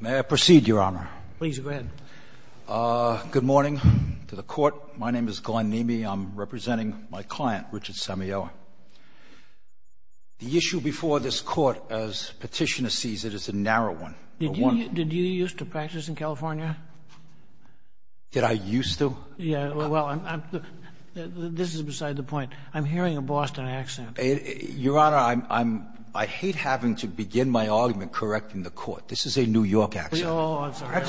May I proceed, Your Honor? Please, go ahead. Good morning to the Court. My name is Glenn Neamey. I'm representing my client, Richard Samayoa. The issue before this Court, as Petitioner sees it, is a narrow one. Did you used to practice in California? Did I used to? Yeah, well, this is beside the point. I'm hearing a Boston accent. Your Honor, I hate having to begin my argument correcting the Court. This is a New York accent. Oh, I'm sorry.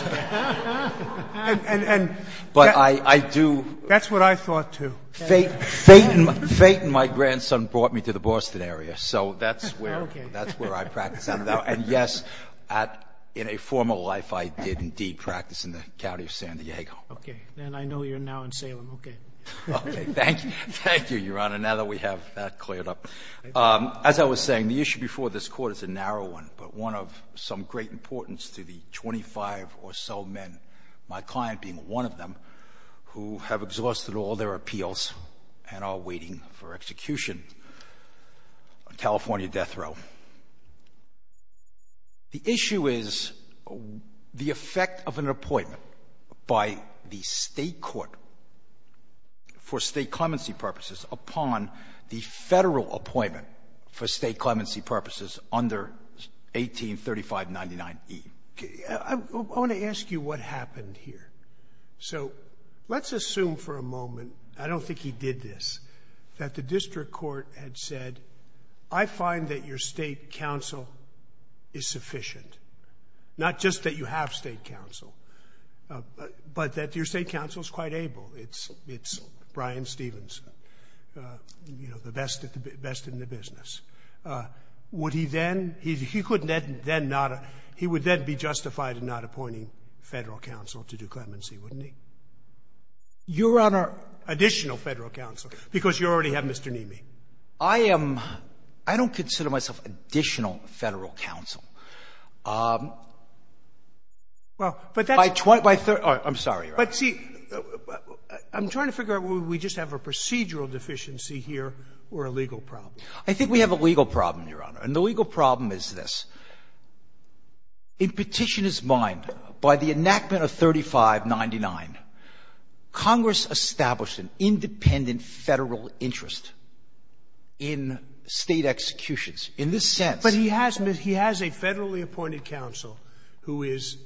But I do. That's what I thought, too. Fayton, my grandson, brought me to the Boston area, so that's where I practice. And, yes, in a former life, I did indeed practice in the county of San Diego. Okay. And I know you're now in Salem. Okay. Thank you. Thank you, Your Honor, now that we have that cleared up. As I was saying, the issue before this Court is a narrow one, but one of some great importance to the 25 or so men, my client being one of them, who have exhausted all their appeals and are waiting for execution on California death row. The issue is the effect of an appointment by the State court for State clemency purposes upon the Federal appointment for State clemency purposes under 183599E. I want to ask you what happened here. So let's assume for a moment, I don't think he did this, that the district court had said, I find that your State counsel is sufficient, not just that you have State counsel, but that your State counsel is quite able. It's Brian Stevens, you know, the best in the business. Would he then – he would then be justified in not appointing Federal counsel to do clemency, wouldn't he? Your Honor, additional Federal counsel, because you already have Mr. Nimi. I am – I don't consider myself additional Federal counsel. Well, but that's – I'm sorry, Your Honor. But see, I'm trying to figure out whether we just have a procedural deficiency here or a legal problem. I think we have a legal problem, Your Honor, and the legal problem is this. In Petitioner's mind, by the enactment of 3599, Congress established an independent Federal interest in State executions. In this sense – But he has – he has a Federally appointed counsel who is,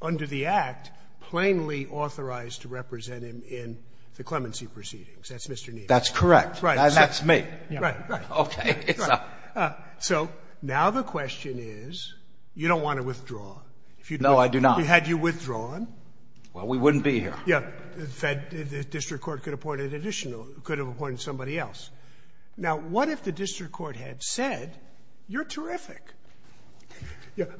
under the Act, plainly authorized to represent him in the clemency proceedings. That's Mr. Nimi. That's correct. That's me. Right. So now the question is, you don't want to withdraw. No, I do not. Had you withdrawn – Well, we wouldn't be here. The District Court could have appointed additional – could have appointed somebody else. Now, what if the District Court had said, you're terrific.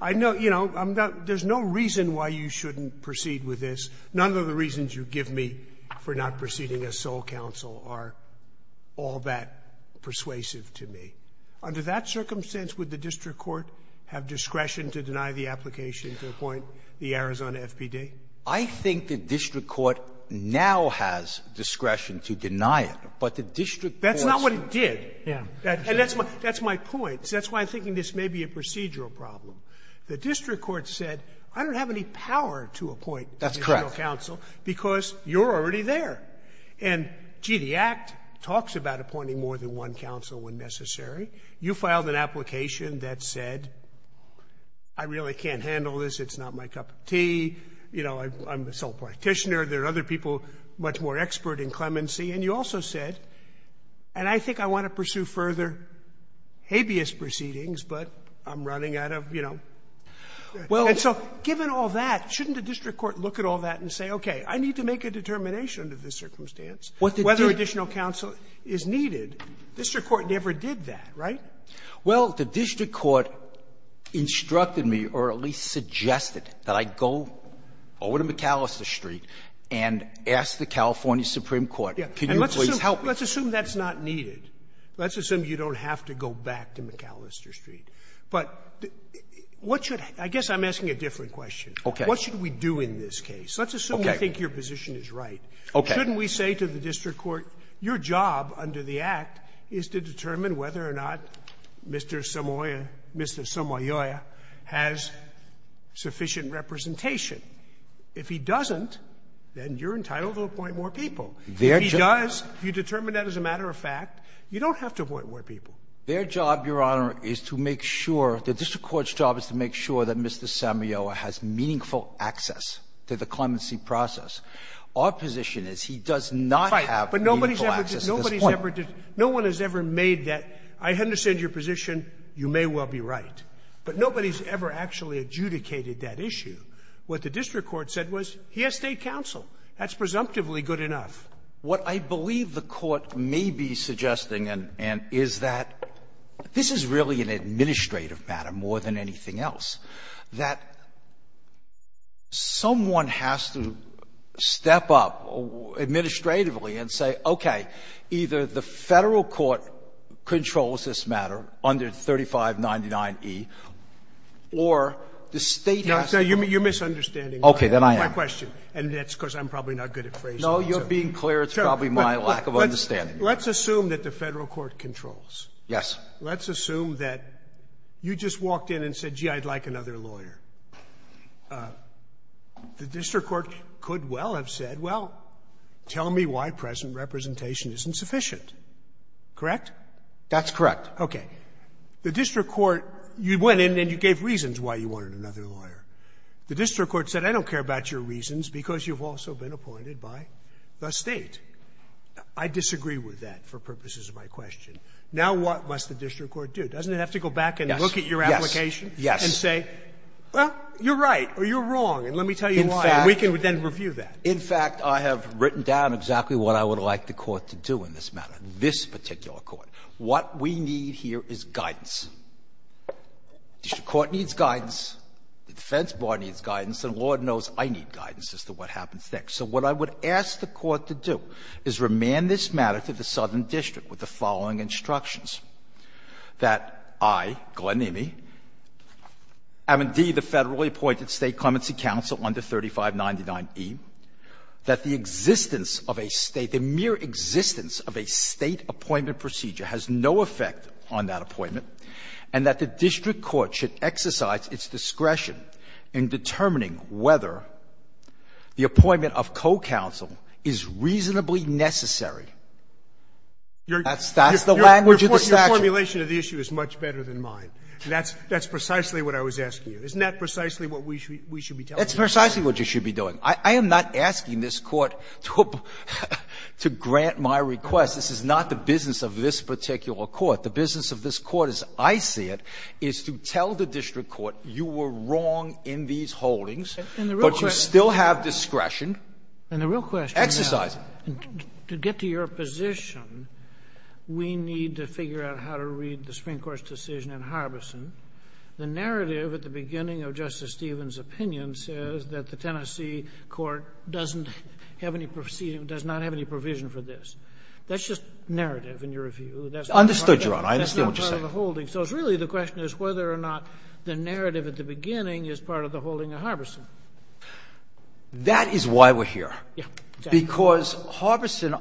I know – you know, there's no reason why you shouldn't proceed with this. None of the reasons you give me for not proceeding as sole counsel are all that Under that circumstance, would the District Court have discretion to deny the application to appoint the Arizona FPD? I think the District Court now has discretion to deny it, but the District Court's – That's not what it did. Yeah. And that's my – that's my point. That's why I'm thinking this may be a procedural problem. The District Court said, I don't have any power to appoint additional counsel because you're already there. And, gee, the Act talks about appointing more than one counsel when necessary. You filed an application that said, I really can't handle this. It's not my cup of tea. You know, I'm a sole practitioner. There are other people much more expert in clemency. And you also said, and I think I want to pursue further habeas proceedings, but I'm running out of, you know – Well – And so given all that, shouldn't the District Court look at all that and say, okay, I need to make a determination under this circumstance whether additional counsel is needed? District Court never did that, right? Well, the District Court instructed me or at least suggested that I go over to McAllister Street and ask the California Supreme Court, can you please help me? Let's assume that's not needed. Let's assume you don't have to go back to McAllister Street. But what should – I guess I'm asking a different question. What should we do in this case? Let's assume we think your position is right. Okay. Shouldn't we say to the District Court, your job under the Act is to determine whether or not Mr. Samoyoa has sufficient representation? If he doesn't, then you're entitled to appoint more people. If he does, if you determine that as a matter of fact, you don't have to appoint more people. Their job, Your Honor, is to make sure – the District Court's job is to make sure that Mr. Samoyoa has meaningful access to the clemency process. Our position is he does not have meaningful access at this point. Right. But nobody's ever – nobody's ever – no one has ever made that, I understand your position, you may well be right. But nobody's ever actually adjudicated that issue. What the District Court said was he has State counsel. That's presumptively good enough. What I believe the Court may be suggesting is that this is really an administrative matter more than anything else. That someone has to step up administratively and say, okay, either the Federal Court controls this matter under 3599e, or the State has to do it. You're misunderstanding my question. Okay. Then I am. And that's because I'm probably not good at phrasing. No, you're being clear. It's probably my lack of understanding. Let's assume that the Federal Court controls. Yes. Let's assume that you just walked in and said, gee, I'd like another lawyer. The District Court could well have said, well, tell me why present representation isn't sufficient. Correct? That's correct. Okay. The District Court – you went in and you gave reasons why you wanted another lawyer. The District Court said, I don't care about your reasons because you've also been appointed by the State. I disagree with that for purposes of my question. Now what must the District Court do? Doesn't it have to go back and look at your application and say, well, you're right, or you're wrong, and let me tell you why, and we can then review that? In fact, I have written down exactly what I would like the Court to do in this matter, this particular Court. What we need here is guidance. The District Court needs guidance. The defense bar needs guidance. And Lord knows I need guidance as to what happens next. So what I would ask the Court to do is remand this matter to the Southern District Court to make with the following instructions. That I, Glenn Emeigh, am indeed a federally appointed State clemency counsel under 3599e. That the existence of a State, the mere existence of a State appointment procedure has no effect on that appointment. And that the District Court should exercise its discretion in determining whether the appointment of co-counsel is reasonably necessary. That's the language of the statute. Scalia. Your formulation of the issue is much better than mine. That's precisely what I was asking you. Isn't that precisely what we should be telling the Court? Verrilli, that's precisely what you should be doing. I am not asking this Court to grant my request. This is not the business of this particular Court. The business of this Court, as I see it, is to tell the District Court you were wrong in these holdings. But you still have discretion. And the real question is to get to your position, we need to figure out how to read the Supreme Court's decision in Harbison. The narrative at the beginning of Justice Stevens' opinion says that the Tennessee Court doesn't have any proceeding, does not have any provision for this. That's just narrative in your view. That's not part of the holding. Verrilli, I understood, Your Honor. I understand what you're saying. So it's really the question is whether or not the narrative at the beginning is part of the holding at Harbison. That is why we're here. Yeah. Because Harbison,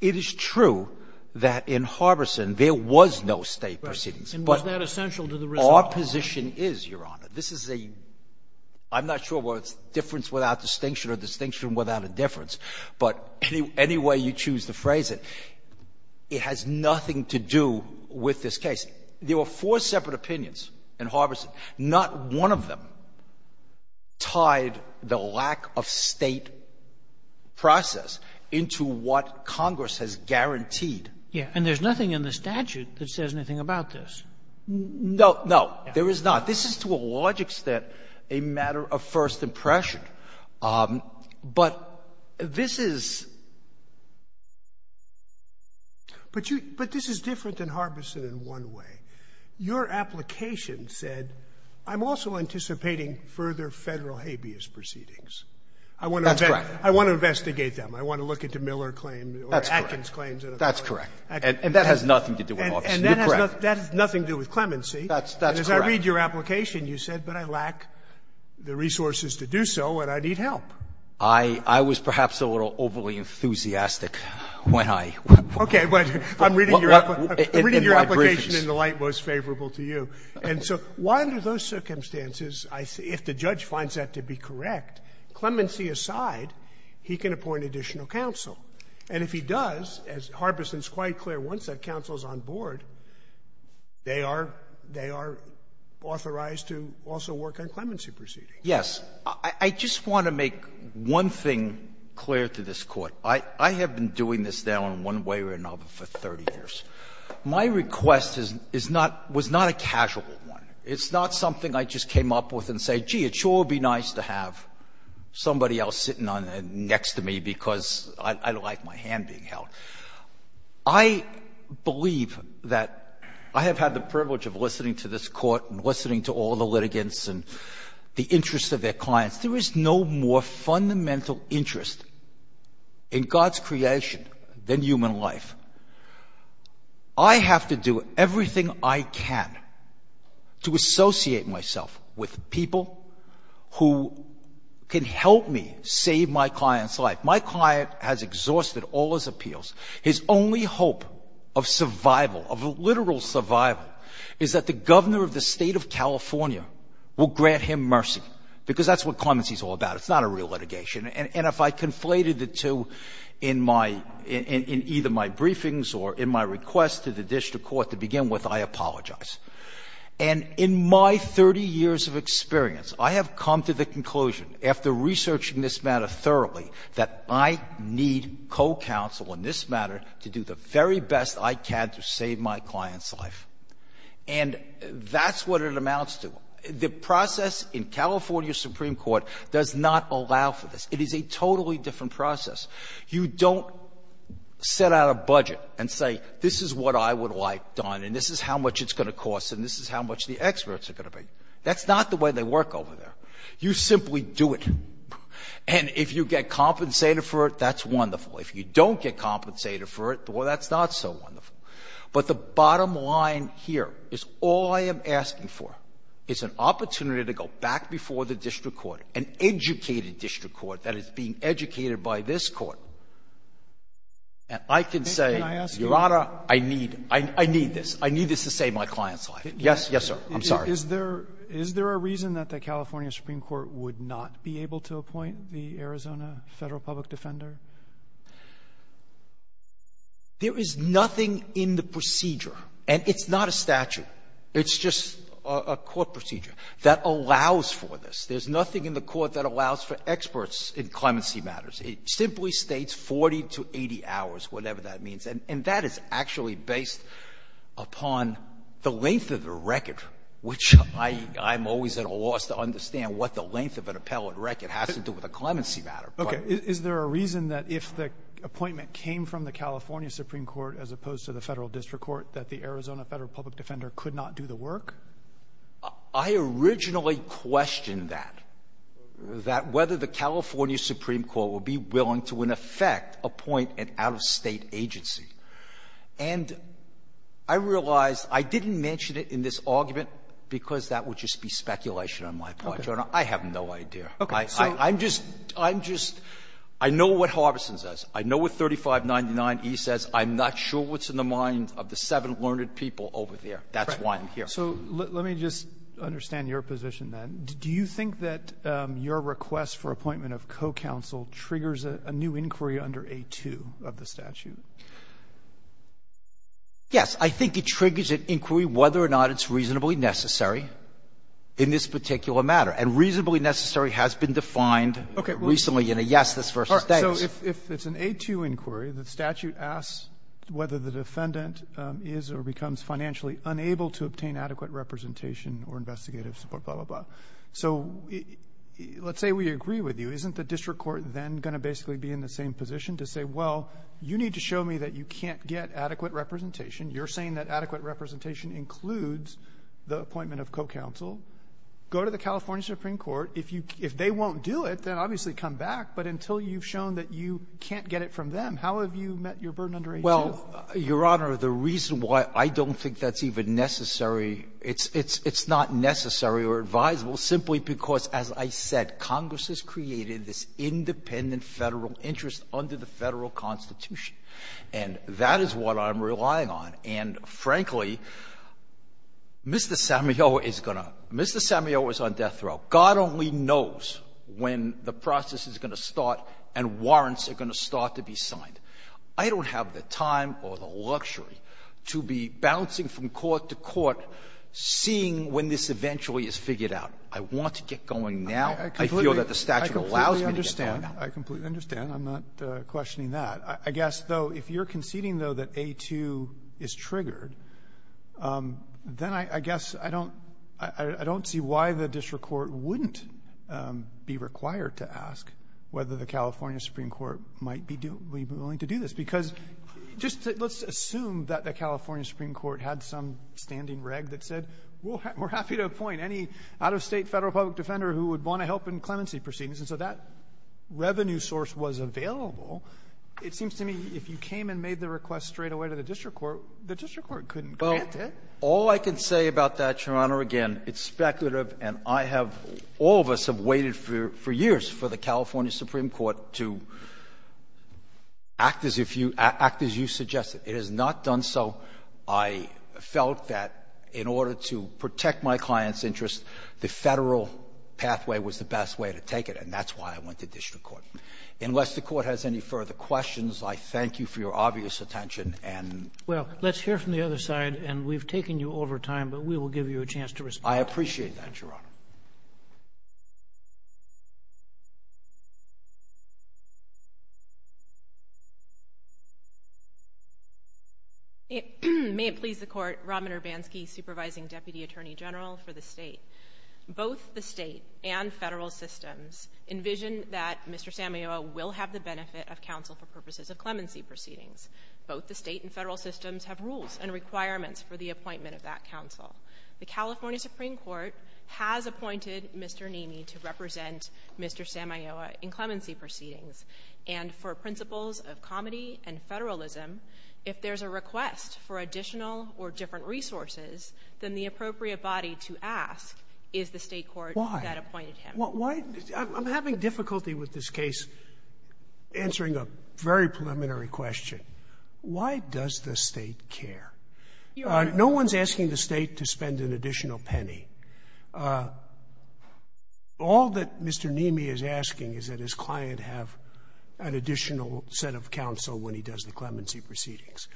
it is true that in Harbison there was no State proceedings. Right. And was that essential to the result? Our position is, Your Honor, this is a — I'm not sure whether it's difference without distinction or distinction without a difference. But any way you choose to phrase it, it has nothing to do with this case. There were four separate opinions in Harbison. Not one of them tied the lack of State process into what Congress has guaranteed. Yeah. And there's nothing in the statute that says anything about this. No, no. There is not. This is to a large extent a matter of first impression. But this is — But you — but this is different than Harbison in one way. Your application said, I'm also anticipating further Federal habeas proceedings. That's correct. I want to investigate them. I want to look into Miller claims or Atkins claims. That's correct. And that has nothing to do with Harbison. You're correct. And that has nothing to do with clemency. That's correct. And as I read your application, you said, but I lack the resources to do so and I need help. I was perhaps a little overly enthusiastic when I — Okay. But I'm reading your application in the light most favorable to you. And so why under those circumstances, if the judge finds that to be correct, clemency aside, he can appoint additional counsel. And if he does, as Harbison is quite clear, once that counsel is on board, they are authorized to also work on clemency proceedings. Yes. I just want to make one thing clear to this Court. I have been doing this now in one way or another for 30 years. My request is not — was not a casual one. It's not something I just came up with and said, gee, it sure would be nice to have somebody else sitting on it next to me because I don't like my hand being held. I believe that I have had the privilege of listening to this Court and listening to all the litigants and the interests of their clients. Since there is no more fundamental interest in God's creation than human life, I have to do everything I can to associate myself with people who can help me save my client's life. My client has exhausted all his appeals. His only hope of survival, of literal survival, is that the governor of the state of California will grant him mercy, because that's what clemency is all about. It's not a real litigation. And if I conflated the two in my — in either my briefings or in my request to the district court to begin with, I apologize. And in my 30 years of experience, I have come to the conclusion, after researching this matter thoroughly, that I need co-counsel in this matter to do the very best I can to save my client's life. And that's what it amounts to. The process in California Supreme Court does not allow for this. It is a totally different process. You don't set out a budget and say, this is what I would like done, and this is how much it's going to cost, and this is how much the experts are going to pay. That's not the way they work over there. You simply do it. And if you get compensated for it, that's wonderful. If you don't get compensated for it, well, that's not so wonderful. But the bottom line here is all I am asking for is an opportunity to go back before the district court, an educated district court that is being educated by this court, and I can say, Your Honor, I need — I need this. I need this to save my client's life. Yes. Yes, sir. I'm sorry. Is there a reason that the California Supreme Court would not be able to appoint the Arizona Federal Public Defender? There is nothing in the procedure, and it's not a statute. It's just a court procedure that allows for this. There's nothing in the court that allows for experts in clemency matters. It simply States 40 to 80 hours, whatever that means. And that is actually based upon the length of the record, which I'm always at a loss to understand what the length of an appellate record has to do with a clemency matter. Okay. Is there a reason that if the appointment came from the California Supreme Court as opposed to the Federal District Court that the Arizona Federal Public Defender could not do the work? I originally questioned that, that whether the California Supreme Court would be willing to, in effect, appoint an out-of-State agency. And I realized I didn't mention it in this argument because that would just be speculation on my part, Your Honor. I have no idea. I'm just, I'm just, I know what Harbison says. I know what 3599e says. I'm not sure what's in the mind of the seven learned people over there. That's why I'm here. So let me just understand your position, then. Do you think that your request for appointment of co-counsel triggers a new inquiry under A2 of the statute? Yes. I think it triggers an inquiry whether or not it's reasonably necessary in this particular matter. And reasonably necessary has been defined recently in a yes, this versus that. So if it's an A2 inquiry, the statute asks whether the defendant is or becomes financially unable to obtain adequate representation or investigative support, blah, blah, blah. So let's say we agree with you. Isn't the district court then going to basically be in the same position to say, well, you need to show me that you can't get adequate representation? You're saying that adequate representation includes the appointment of co-counsel. Go to the California Supreme Court. If they won't do it, then obviously come back. But until you've shown that you can't get it from them, how have you met your burden under A2? Well, Your Honor, the reason why I don't think that's even necessary, it's not necessary or advisable simply because, as I said, Congress has created this independent Federal interest under the Federal Constitution. And that is what I'm relying on. And frankly, Mr. Sammio is going to — Mr. Sammio is on death row. God only knows when the process is going to start and warrants are going to start to be signed. I don't have the time or the luxury to be bouncing from court to court seeing when this eventually is figured out. I want to get going now. I feel that the statute allows me to get going now. I completely understand. I'm not questioning that. But I guess, though, if you're conceding, though, that A2 is triggered, then I guess I don't — I don't see why the district court wouldn't be required to ask whether the California Supreme Court might be willing to do this. Because just — let's assume that the California Supreme Court had some standing reg that said, we're happy to appoint any out-of-state Federal public defender who would want to help in clemency proceedings. And so that revenue source was available. It seems to me if you came and made the request straightaway to the district court, the district court couldn't grant it. Well, all I can say about that, Your Honor, again, it's speculative and I have — all of us have waited for years for the California Supreme Court to act as if you — act as you suggested. It has not done so. I felt that in order to protect my clients' interests, the Federal pathway was the best way to take it. And that's why I went to district court. Unless the Court has any further questions, I thank you for your obvious attention and — Well, let's hear from the other side. And we've taken you over time, but we will give you a chance to respond. I appreciate that, Your Honor. May it please the Court, Robert Urbanski, Supervising Deputy Attorney General for the State. Both the State and Federal systems envision that Mr. Samaiola will have the benefit of counsel for purposes of clemency proceedings. Both the State and Federal systems have rules and requirements for the appointment of that counsel. The California Supreme Court has appointed Mr. Nemi to represent Mr. Samaiola in clemency proceedings. And for principles of comedy and federalism, if there's a request for additional or different resources, then the appropriate body to ask is the State court that appointed him. Why? I'm having difficulty with this case answering a very preliminary question. Why does the State care? No one's asking the State to spend an additional penny. All that Mr. Nemi is asking is that his client have an additional set of counsel when he does the clemency proceedings.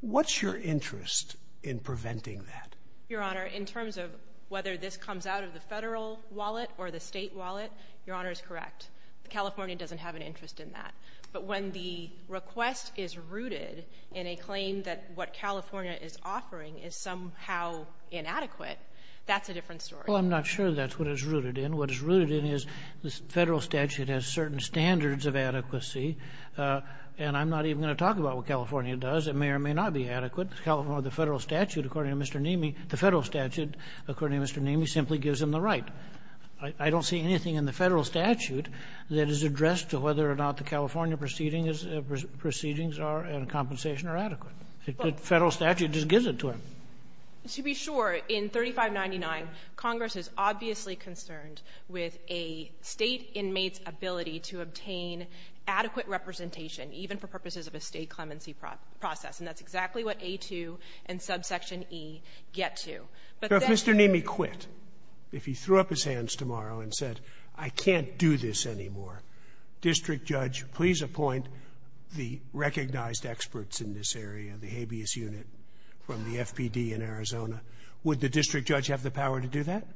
What's your interest in preventing that? Your Honor, in terms of whether this comes out of the Federal wallet or the State wallet, Your Honor is correct. California doesn't have an interest in that. But when the request is rooted in a claim that what California is offering is somehow inadequate, that's a different story. Well, I'm not sure that's what it's rooted in. What it's rooted in is the Federal statute has certain standards of adequacy, and I'm not even going to talk about what California does. It may or may not be adequate. California, the Federal statute, according to Mr. Nemi, the Federal statute, according to Mr. Nemi, simply gives him the right. I don't see anything in the Federal statute that is addressed to whether or not the California proceedings are in compensation or adequate. The Federal statute just gives it to him. To be sure, in 3599, Congress is obviously concerned with a State inmate's ability to obtain adequate representation, even for purposes of a State clemency process. And that's exactly what A2 and subsection E get to. If Mr. Nemi quit, if he threw up his hands tomorrow and said, I can't do this anymore, District Judge, please appoint the recognized experts in this area, the habeas unit from the FPD in Arizona, would the District Judge have the power to do that?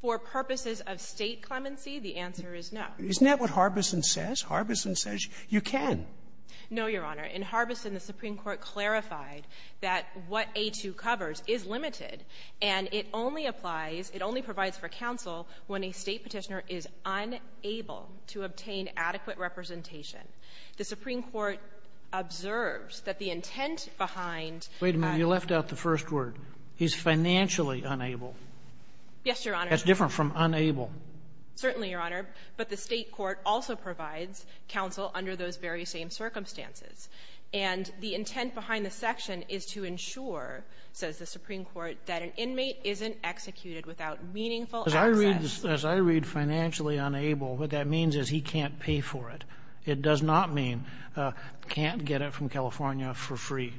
For purposes of State clemency, the answer is no. Isn't that what Harbison says? Harbison says you can. No, Your Honor. In Harbison, the Supreme Court clarified that what A2 covers is limited, and it only applies, it only provides for counsel when a State Petitioner is unable to obtain adequate representation. It's financially unable. Yes, Your Honor. That's different from unable. Certainly, Your Honor. But the State court also provides counsel under those very same circumstances. And the intent behind the section is to ensure, says the Supreme Court, that an inmate isn't executed without meaningful access. As I read financially unable, what that means is he can't pay for it. It does not mean can't get it from California for free.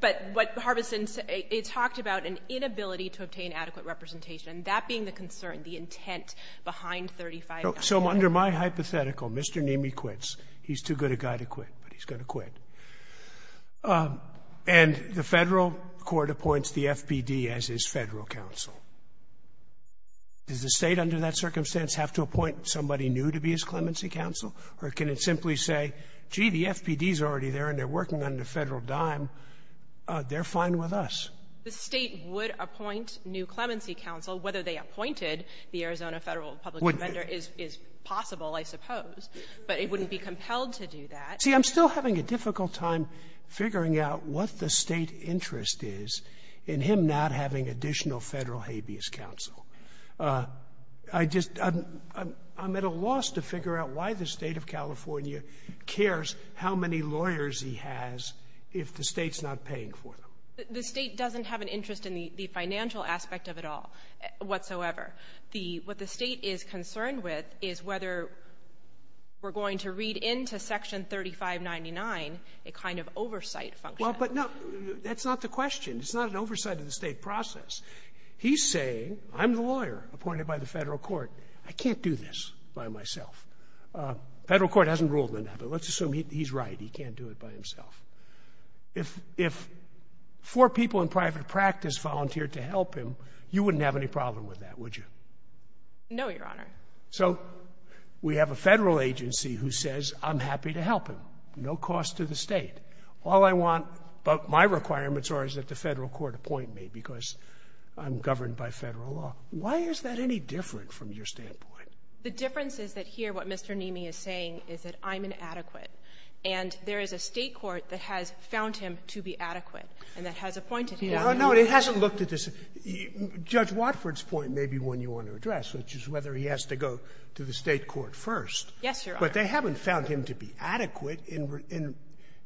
But what Harbison said, it talked about an inability to obtain adequate representation. That being the concern, the intent behind 35. So under my hypothetical, Mr. Neamey quits. He's too good a guy to quit, but he's going to quit. And the Federal court appoints the FPD as his Federal counsel. Does the State, under that circumstance, have to appoint somebody new to be his clemency counsel? Or can it simply say, gee, the FPD is already there and they're working on the dime, they're fine with us? The State would appoint new clemency counsel, whether they appointed the Arizona Federal public defender is possible, I suppose. But it wouldn't be compelled to do that. See, I'm still having a difficult time figuring out what the State interest is in him not having additional Federal habeas counsel. I just, I'm at a loss to figure out why the State of California cares how many lawyers he has if the State's not paying for them. The State doesn't have an interest in the financial aspect of it all whatsoever. What the State is concerned with is whether we're going to read into Section 3599 a kind of oversight function. Well, but no, that's not the question. It's not an oversight of the State process. He's saying, I'm the lawyer appointed by the Federal court. I can't do this by myself. The Federal court hasn't ruled on that, but let's assume he's right. He can't do it by himself. If four people in private practice volunteered to help him, you wouldn't have any problem with that, would you? No, Your Honor. So we have a Federal agency who says, I'm happy to help him, no cost to the State. All I want, but my requirements are that the Federal court appoint me because I'm governed by Federal law. Why is that any different from your standpoint? The difference is that here what Mr. Neamey is saying is that I'm inadequate and there is a State court that has found him to be adequate and that has appointed him. No, it hasn't looked at this. Judge Watford's point may be one you want to address, which is whether he has to go to the State court first. Yes, Your Honor. But they haven't found him to be adequate,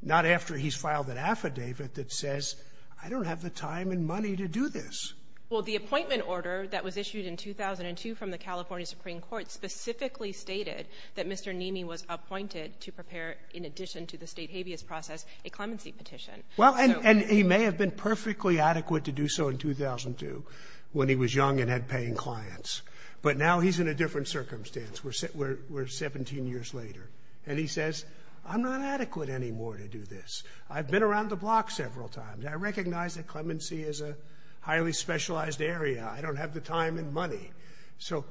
not after he's filed an affidavit that says, I don't have the time and money to do this. Well, the appointment order that was issued in 2002 from the California Supreme Court specifically stated that Mr. Neamey was appointed to prepare, in addition to the State habeas process, a clemency petition. Well, and he may have been perfectly adequate to do so in 2002 when he was young and had paying clients. But now he's in a different circumstance. We're 17 years later. And he says, I'm not adequate anymore to do this. I've been around the block several times. I recognize that clemency is a highly specialized area. I don't have the time and money. So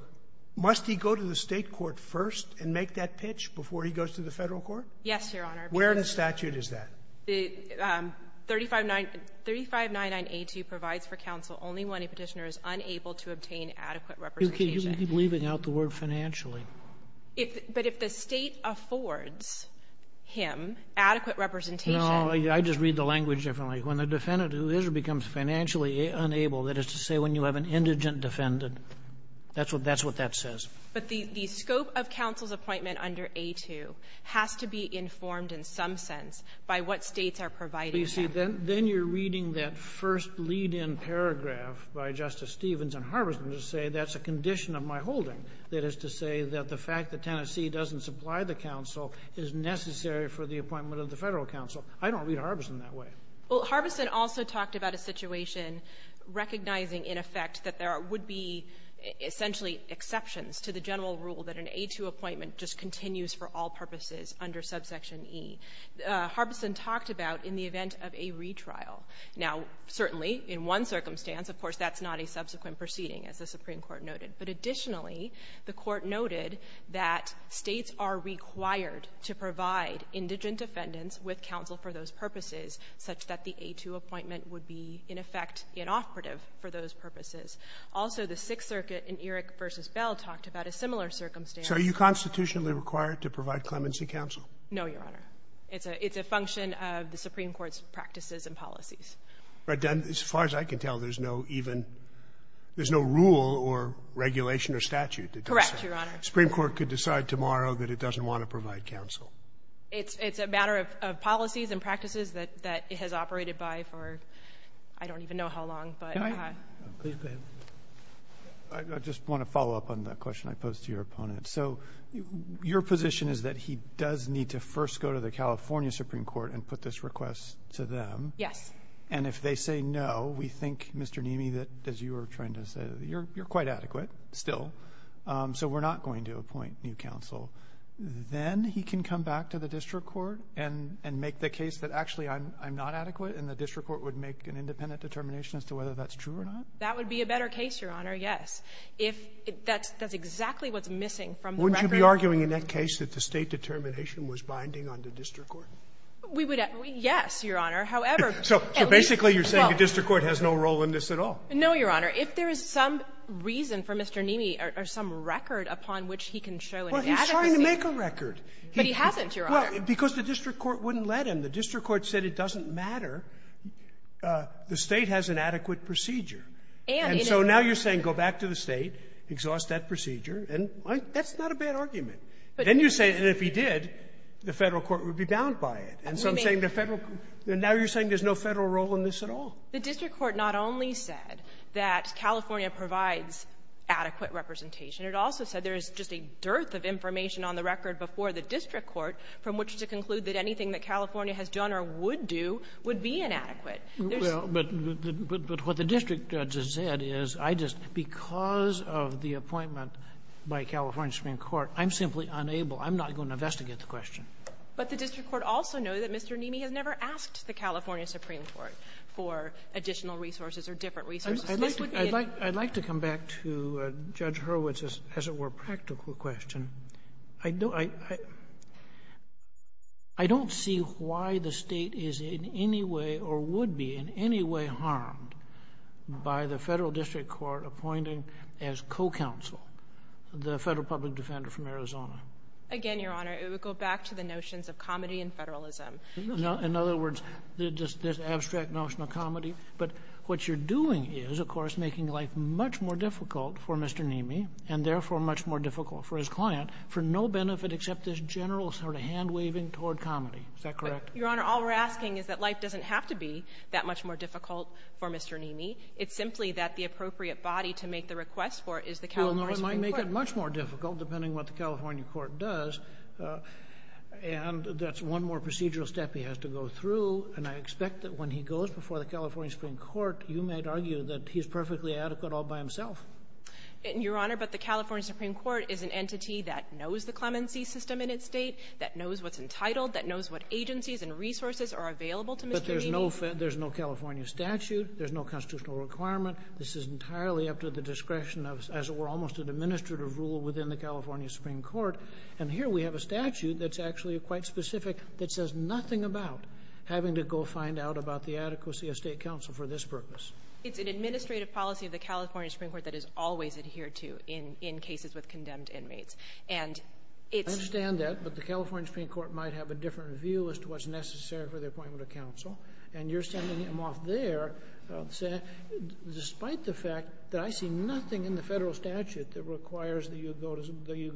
must he go to the State court first and make that pitch before he goes to the Federal court? Yes, Your Honor. Where in the statute is that? The 3599A2 provides for counsel only when a petitioner is unable to obtain adequate representation. You keep leaving out the word financially. But if the State affords him adequate representation. No, I just read the language differently. When the defendant who is or becomes financially unable, that is to say when you have an indigent defendant, that's what that says. But the scope of counsel's appointment under A2 has to be informed in some sense by what States are providing. But you see, then you're reading that first lead-in paragraph by Justice Stevens and Harbison to say that's a condition of my holding. That is to say that the fact that Tennessee doesn't supply the counsel is necessary for the appointment of the Federal counsel. I don't read Harbison that way. Well, Harbison also talked about a situation recognizing in effect that there would be essentially exceptions to the general rule that an A2 appointment just continues for all purposes under subsection E. Harbison talked about in the event of a retrial. Now, certainly in one circumstance, of course, that's not a subsequent proceeding as the Supreme Court noted. But additionally, the Court noted that States are required to provide indigent defendants with counsel for those purposes such that the A2 appointment would be in effect inoperative for those purposes. Also, the Sixth Circuit in Erick v. Bell talked about a similar circumstance. So are you constitutionally required to provide clemency counsel? No, Your Honor. It's a function of the Supreme Court's practices and policies. Right. As far as I can tell, there's no rule or regulation or statute that does that. Correct, Your Honor. The Supreme Court could decide tomorrow that it doesn't want to provide counsel. It's a matter of policies and practices that it has operated by for I don't even know how long. Can I? Please go ahead. I just want to follow up on the question I posed to your opponent. So your position is that he does need to first go to the California Supreme Court and put this request to them. Yes. And if they say no, we think, Mr. Neamey, that as you were trying to say, you're quite adequate still, so we're not going to appoint new counsel. Then he can come back to the district court and make the case that actually I'm not adequate, and the district court would make an independent determination as to whether that's true or not? That would be a better case, Your Honor, yes. If that's exactly what's missing from the record. Wouldn't you be arguing in that case that the State determination was binding on the district court? We would, yes, Your Honor. However, at least. So basically you're saying the district court has no role in this at all. No, Your Honor. If there is some reason for Mr. Neamey or some record upon which he can show an He's not trying to make a record. But he hasn't, Your Honor. Because the district court wouldn't let him. The district court said it doesn't matter. The State has an adequate procedure. And, you know. And so now you're saying go back to the State, exhaust that procedure, and that's not a bad argument. But then you say, and if he did, the Federal court would be bound by it. And so I'm saying the Federal court. Now you're saying there's no Federal role in this at all. The district court not only said that California provides adequate representation, it also said there is just a dearth of information on the record before the district court from which to conclude that anything that California has done or would do would be inadequate. Well, but what the district judge has said is I just, because of the appointment by California Supreme Court, I'm simply unable, I'm not going to investigate the question. But the district court also knows that Mr. Neamey has never asked the California Supreme Court for additional resources or different resources. I'd like to come back to Judge Hurwitz's, as it were, practical question. I don't see why the State is in any way or would be in any way harmed by the Federal district court appointing as co-counsel the Federal public defender from Arizona. Again, Your Honor, it would go back to the notions of comedy and federalism. In other words, this abstract notion of comedy. But what you're doing is, of course, making life much more difficult for Mr. Neamey and therefore much more difficult for his client for no benefit except this general sort of hand-waving toward comedy. Is that correct? Your Honor, all we're asking is that life doesn't have to be that much more difficult for Mr. Neamey. It's simply that the appropriate body to make the request for it is the California Supreme Court. Well, it might make it much more difficult, depending on what the California Supreme Court does. And that's one more procedural step he has to go through. And I expect that when he goes before the California Supreme Court, you might argue that he's perfectly adequate all by himself. Your Honor, but the California Supreme Court is an entity that knows the clemency system in its state, that knows what's entitled, that knows what agencies and resources are available to Mr. Neamey. But there's no California statute. There's no constitutional requirement. This is entirely up to the discretion of, as it were, almost an administrative order of rule within the California Supreme Court. And here we have a statute that's actually quite specific that says nothing about having to go find out about the adequacy of state counsel for this purpose. It's an administrative policy of the California Supreme Court that is always adhered to in cases with condemned inmates. And it's – I understand that. But the California Supreme Court might have a different view as to what's necessary for the appointment of counsel. And you're sending him off there, despite the fact that I see nothing in the statute that requires that you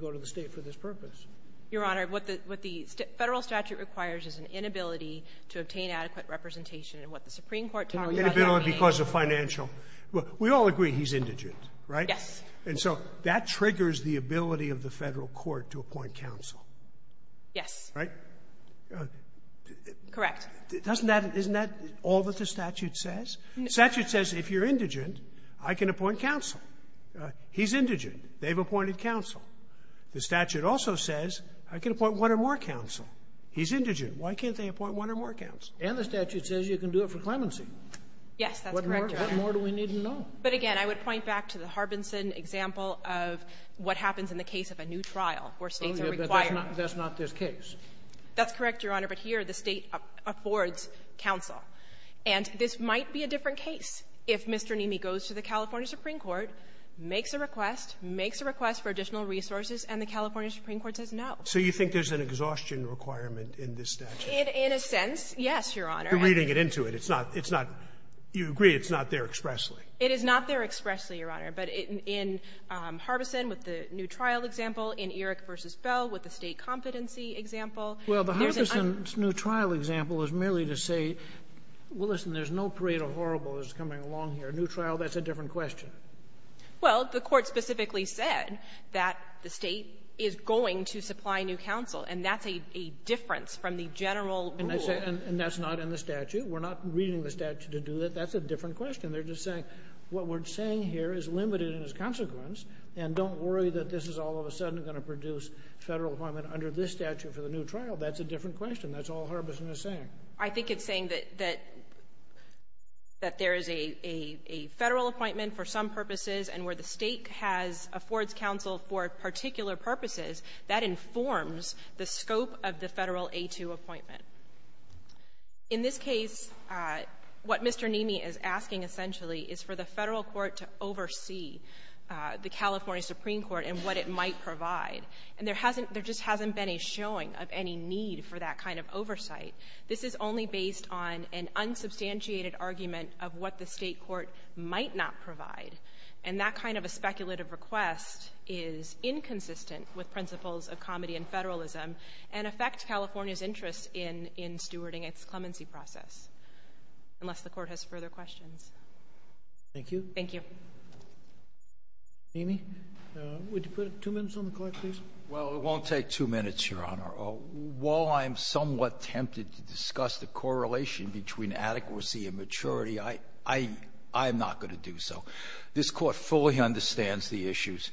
go to the state for this purpose. Your Honor, what the federal statute requires is an inability to obtain adequate representation. And what the Supreme Court tells us – Inability because of financial – we all agree he's indigent, right? Yes. And so that triggers the ability of the federal court to appoint counsel. Yes. Right? Correct. Doesn't that – isn't that all that the statute says? The statute says if you're indigent, I can appoint counsel. He's indigent. They've appointed counsel. The statute also says I can appoint one or more counsel. He's indigent. Why can't they appoint one or more counsel? And the statute says you can do it for clemency. Yes. That's correct, Your Honor. What more do we need to know? But, again, I would point back to the Harbinson example of what happens in the case of a new trial where states are required. Oh, yeah, but that's not this case. That's correct, Your Honor. But here the state affords counsel. And this might be a different case if Mr. Neamey goes to the California Supreme Court, makes a request, makes a request for additional resources, and the California Supreme Court says no. So you think there's an exhaustion requirement in this statute? In a sense, yes, Your Honor. You're reading it into it. It's not – it's not – you agree it's not there expressly. It is not there expressly, Your Honor. But in Harbinson with the new trial example, in Eric v. Bell with the state competency example, there's an – Well, the Harbinson's new trial example is merely to say, well, listen, there's no parade of horribles coming along here. Under the new trial, that's a different question. Well, the court specifically said that the state is going to supply new counsel. And that's a difference from the general rule. And I say – and that's not in the statute. We're not reading the statute to do that. That's a different question. They're just saying what we're saying here is limited in its consequence. And don't worry that this is all of a sudden going to produce federal employment under this statute for the new trial. That's a different question. That's all Harbinson is saying. I think it's saying that there is a federal appointment for some purposes and where the state has – affords counsel for particular purposes, that informs the scope of the federal A2 appointment. In this case, what Mr. Nemi is asking essentially is for the federal court to oversee the California Supreme Court and what it might provide. And there just hasn't been a showing of any need for that kind of oversight. This is only based on an unsubstantiated argument of what the state court might not provide. And that kind of a speculative request is inconsistent with principles of comedy and federalism and affects California's interest in stewarding its clemency process, unless the court has further questions. Thank you. Thank you. Nemi, would you put two minutes on the clock, please? Well, it won't take two minutes, Your Honor. While I am somewhat tempted to discuss the correlation between adequacy and maturity, I am not going to do so. This Court fully understands the issues.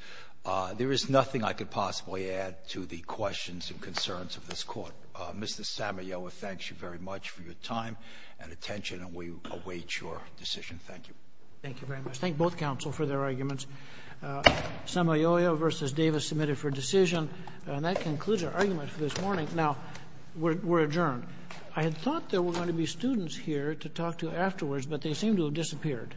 There is nothing I could possibly add to the questions and concerns of this Court. Mr. Sammaioa, thank you very much for your time and attention, and we await your decision. Thank you. Thank you very much. Thank both counsel for their arguments. Sammaioa v. Davis submitted for decision. And that concludes our argument for this morning. Now, we're adjourned. I had thought there were going to be students here to talk to afterwards, but they seem to have disappeared.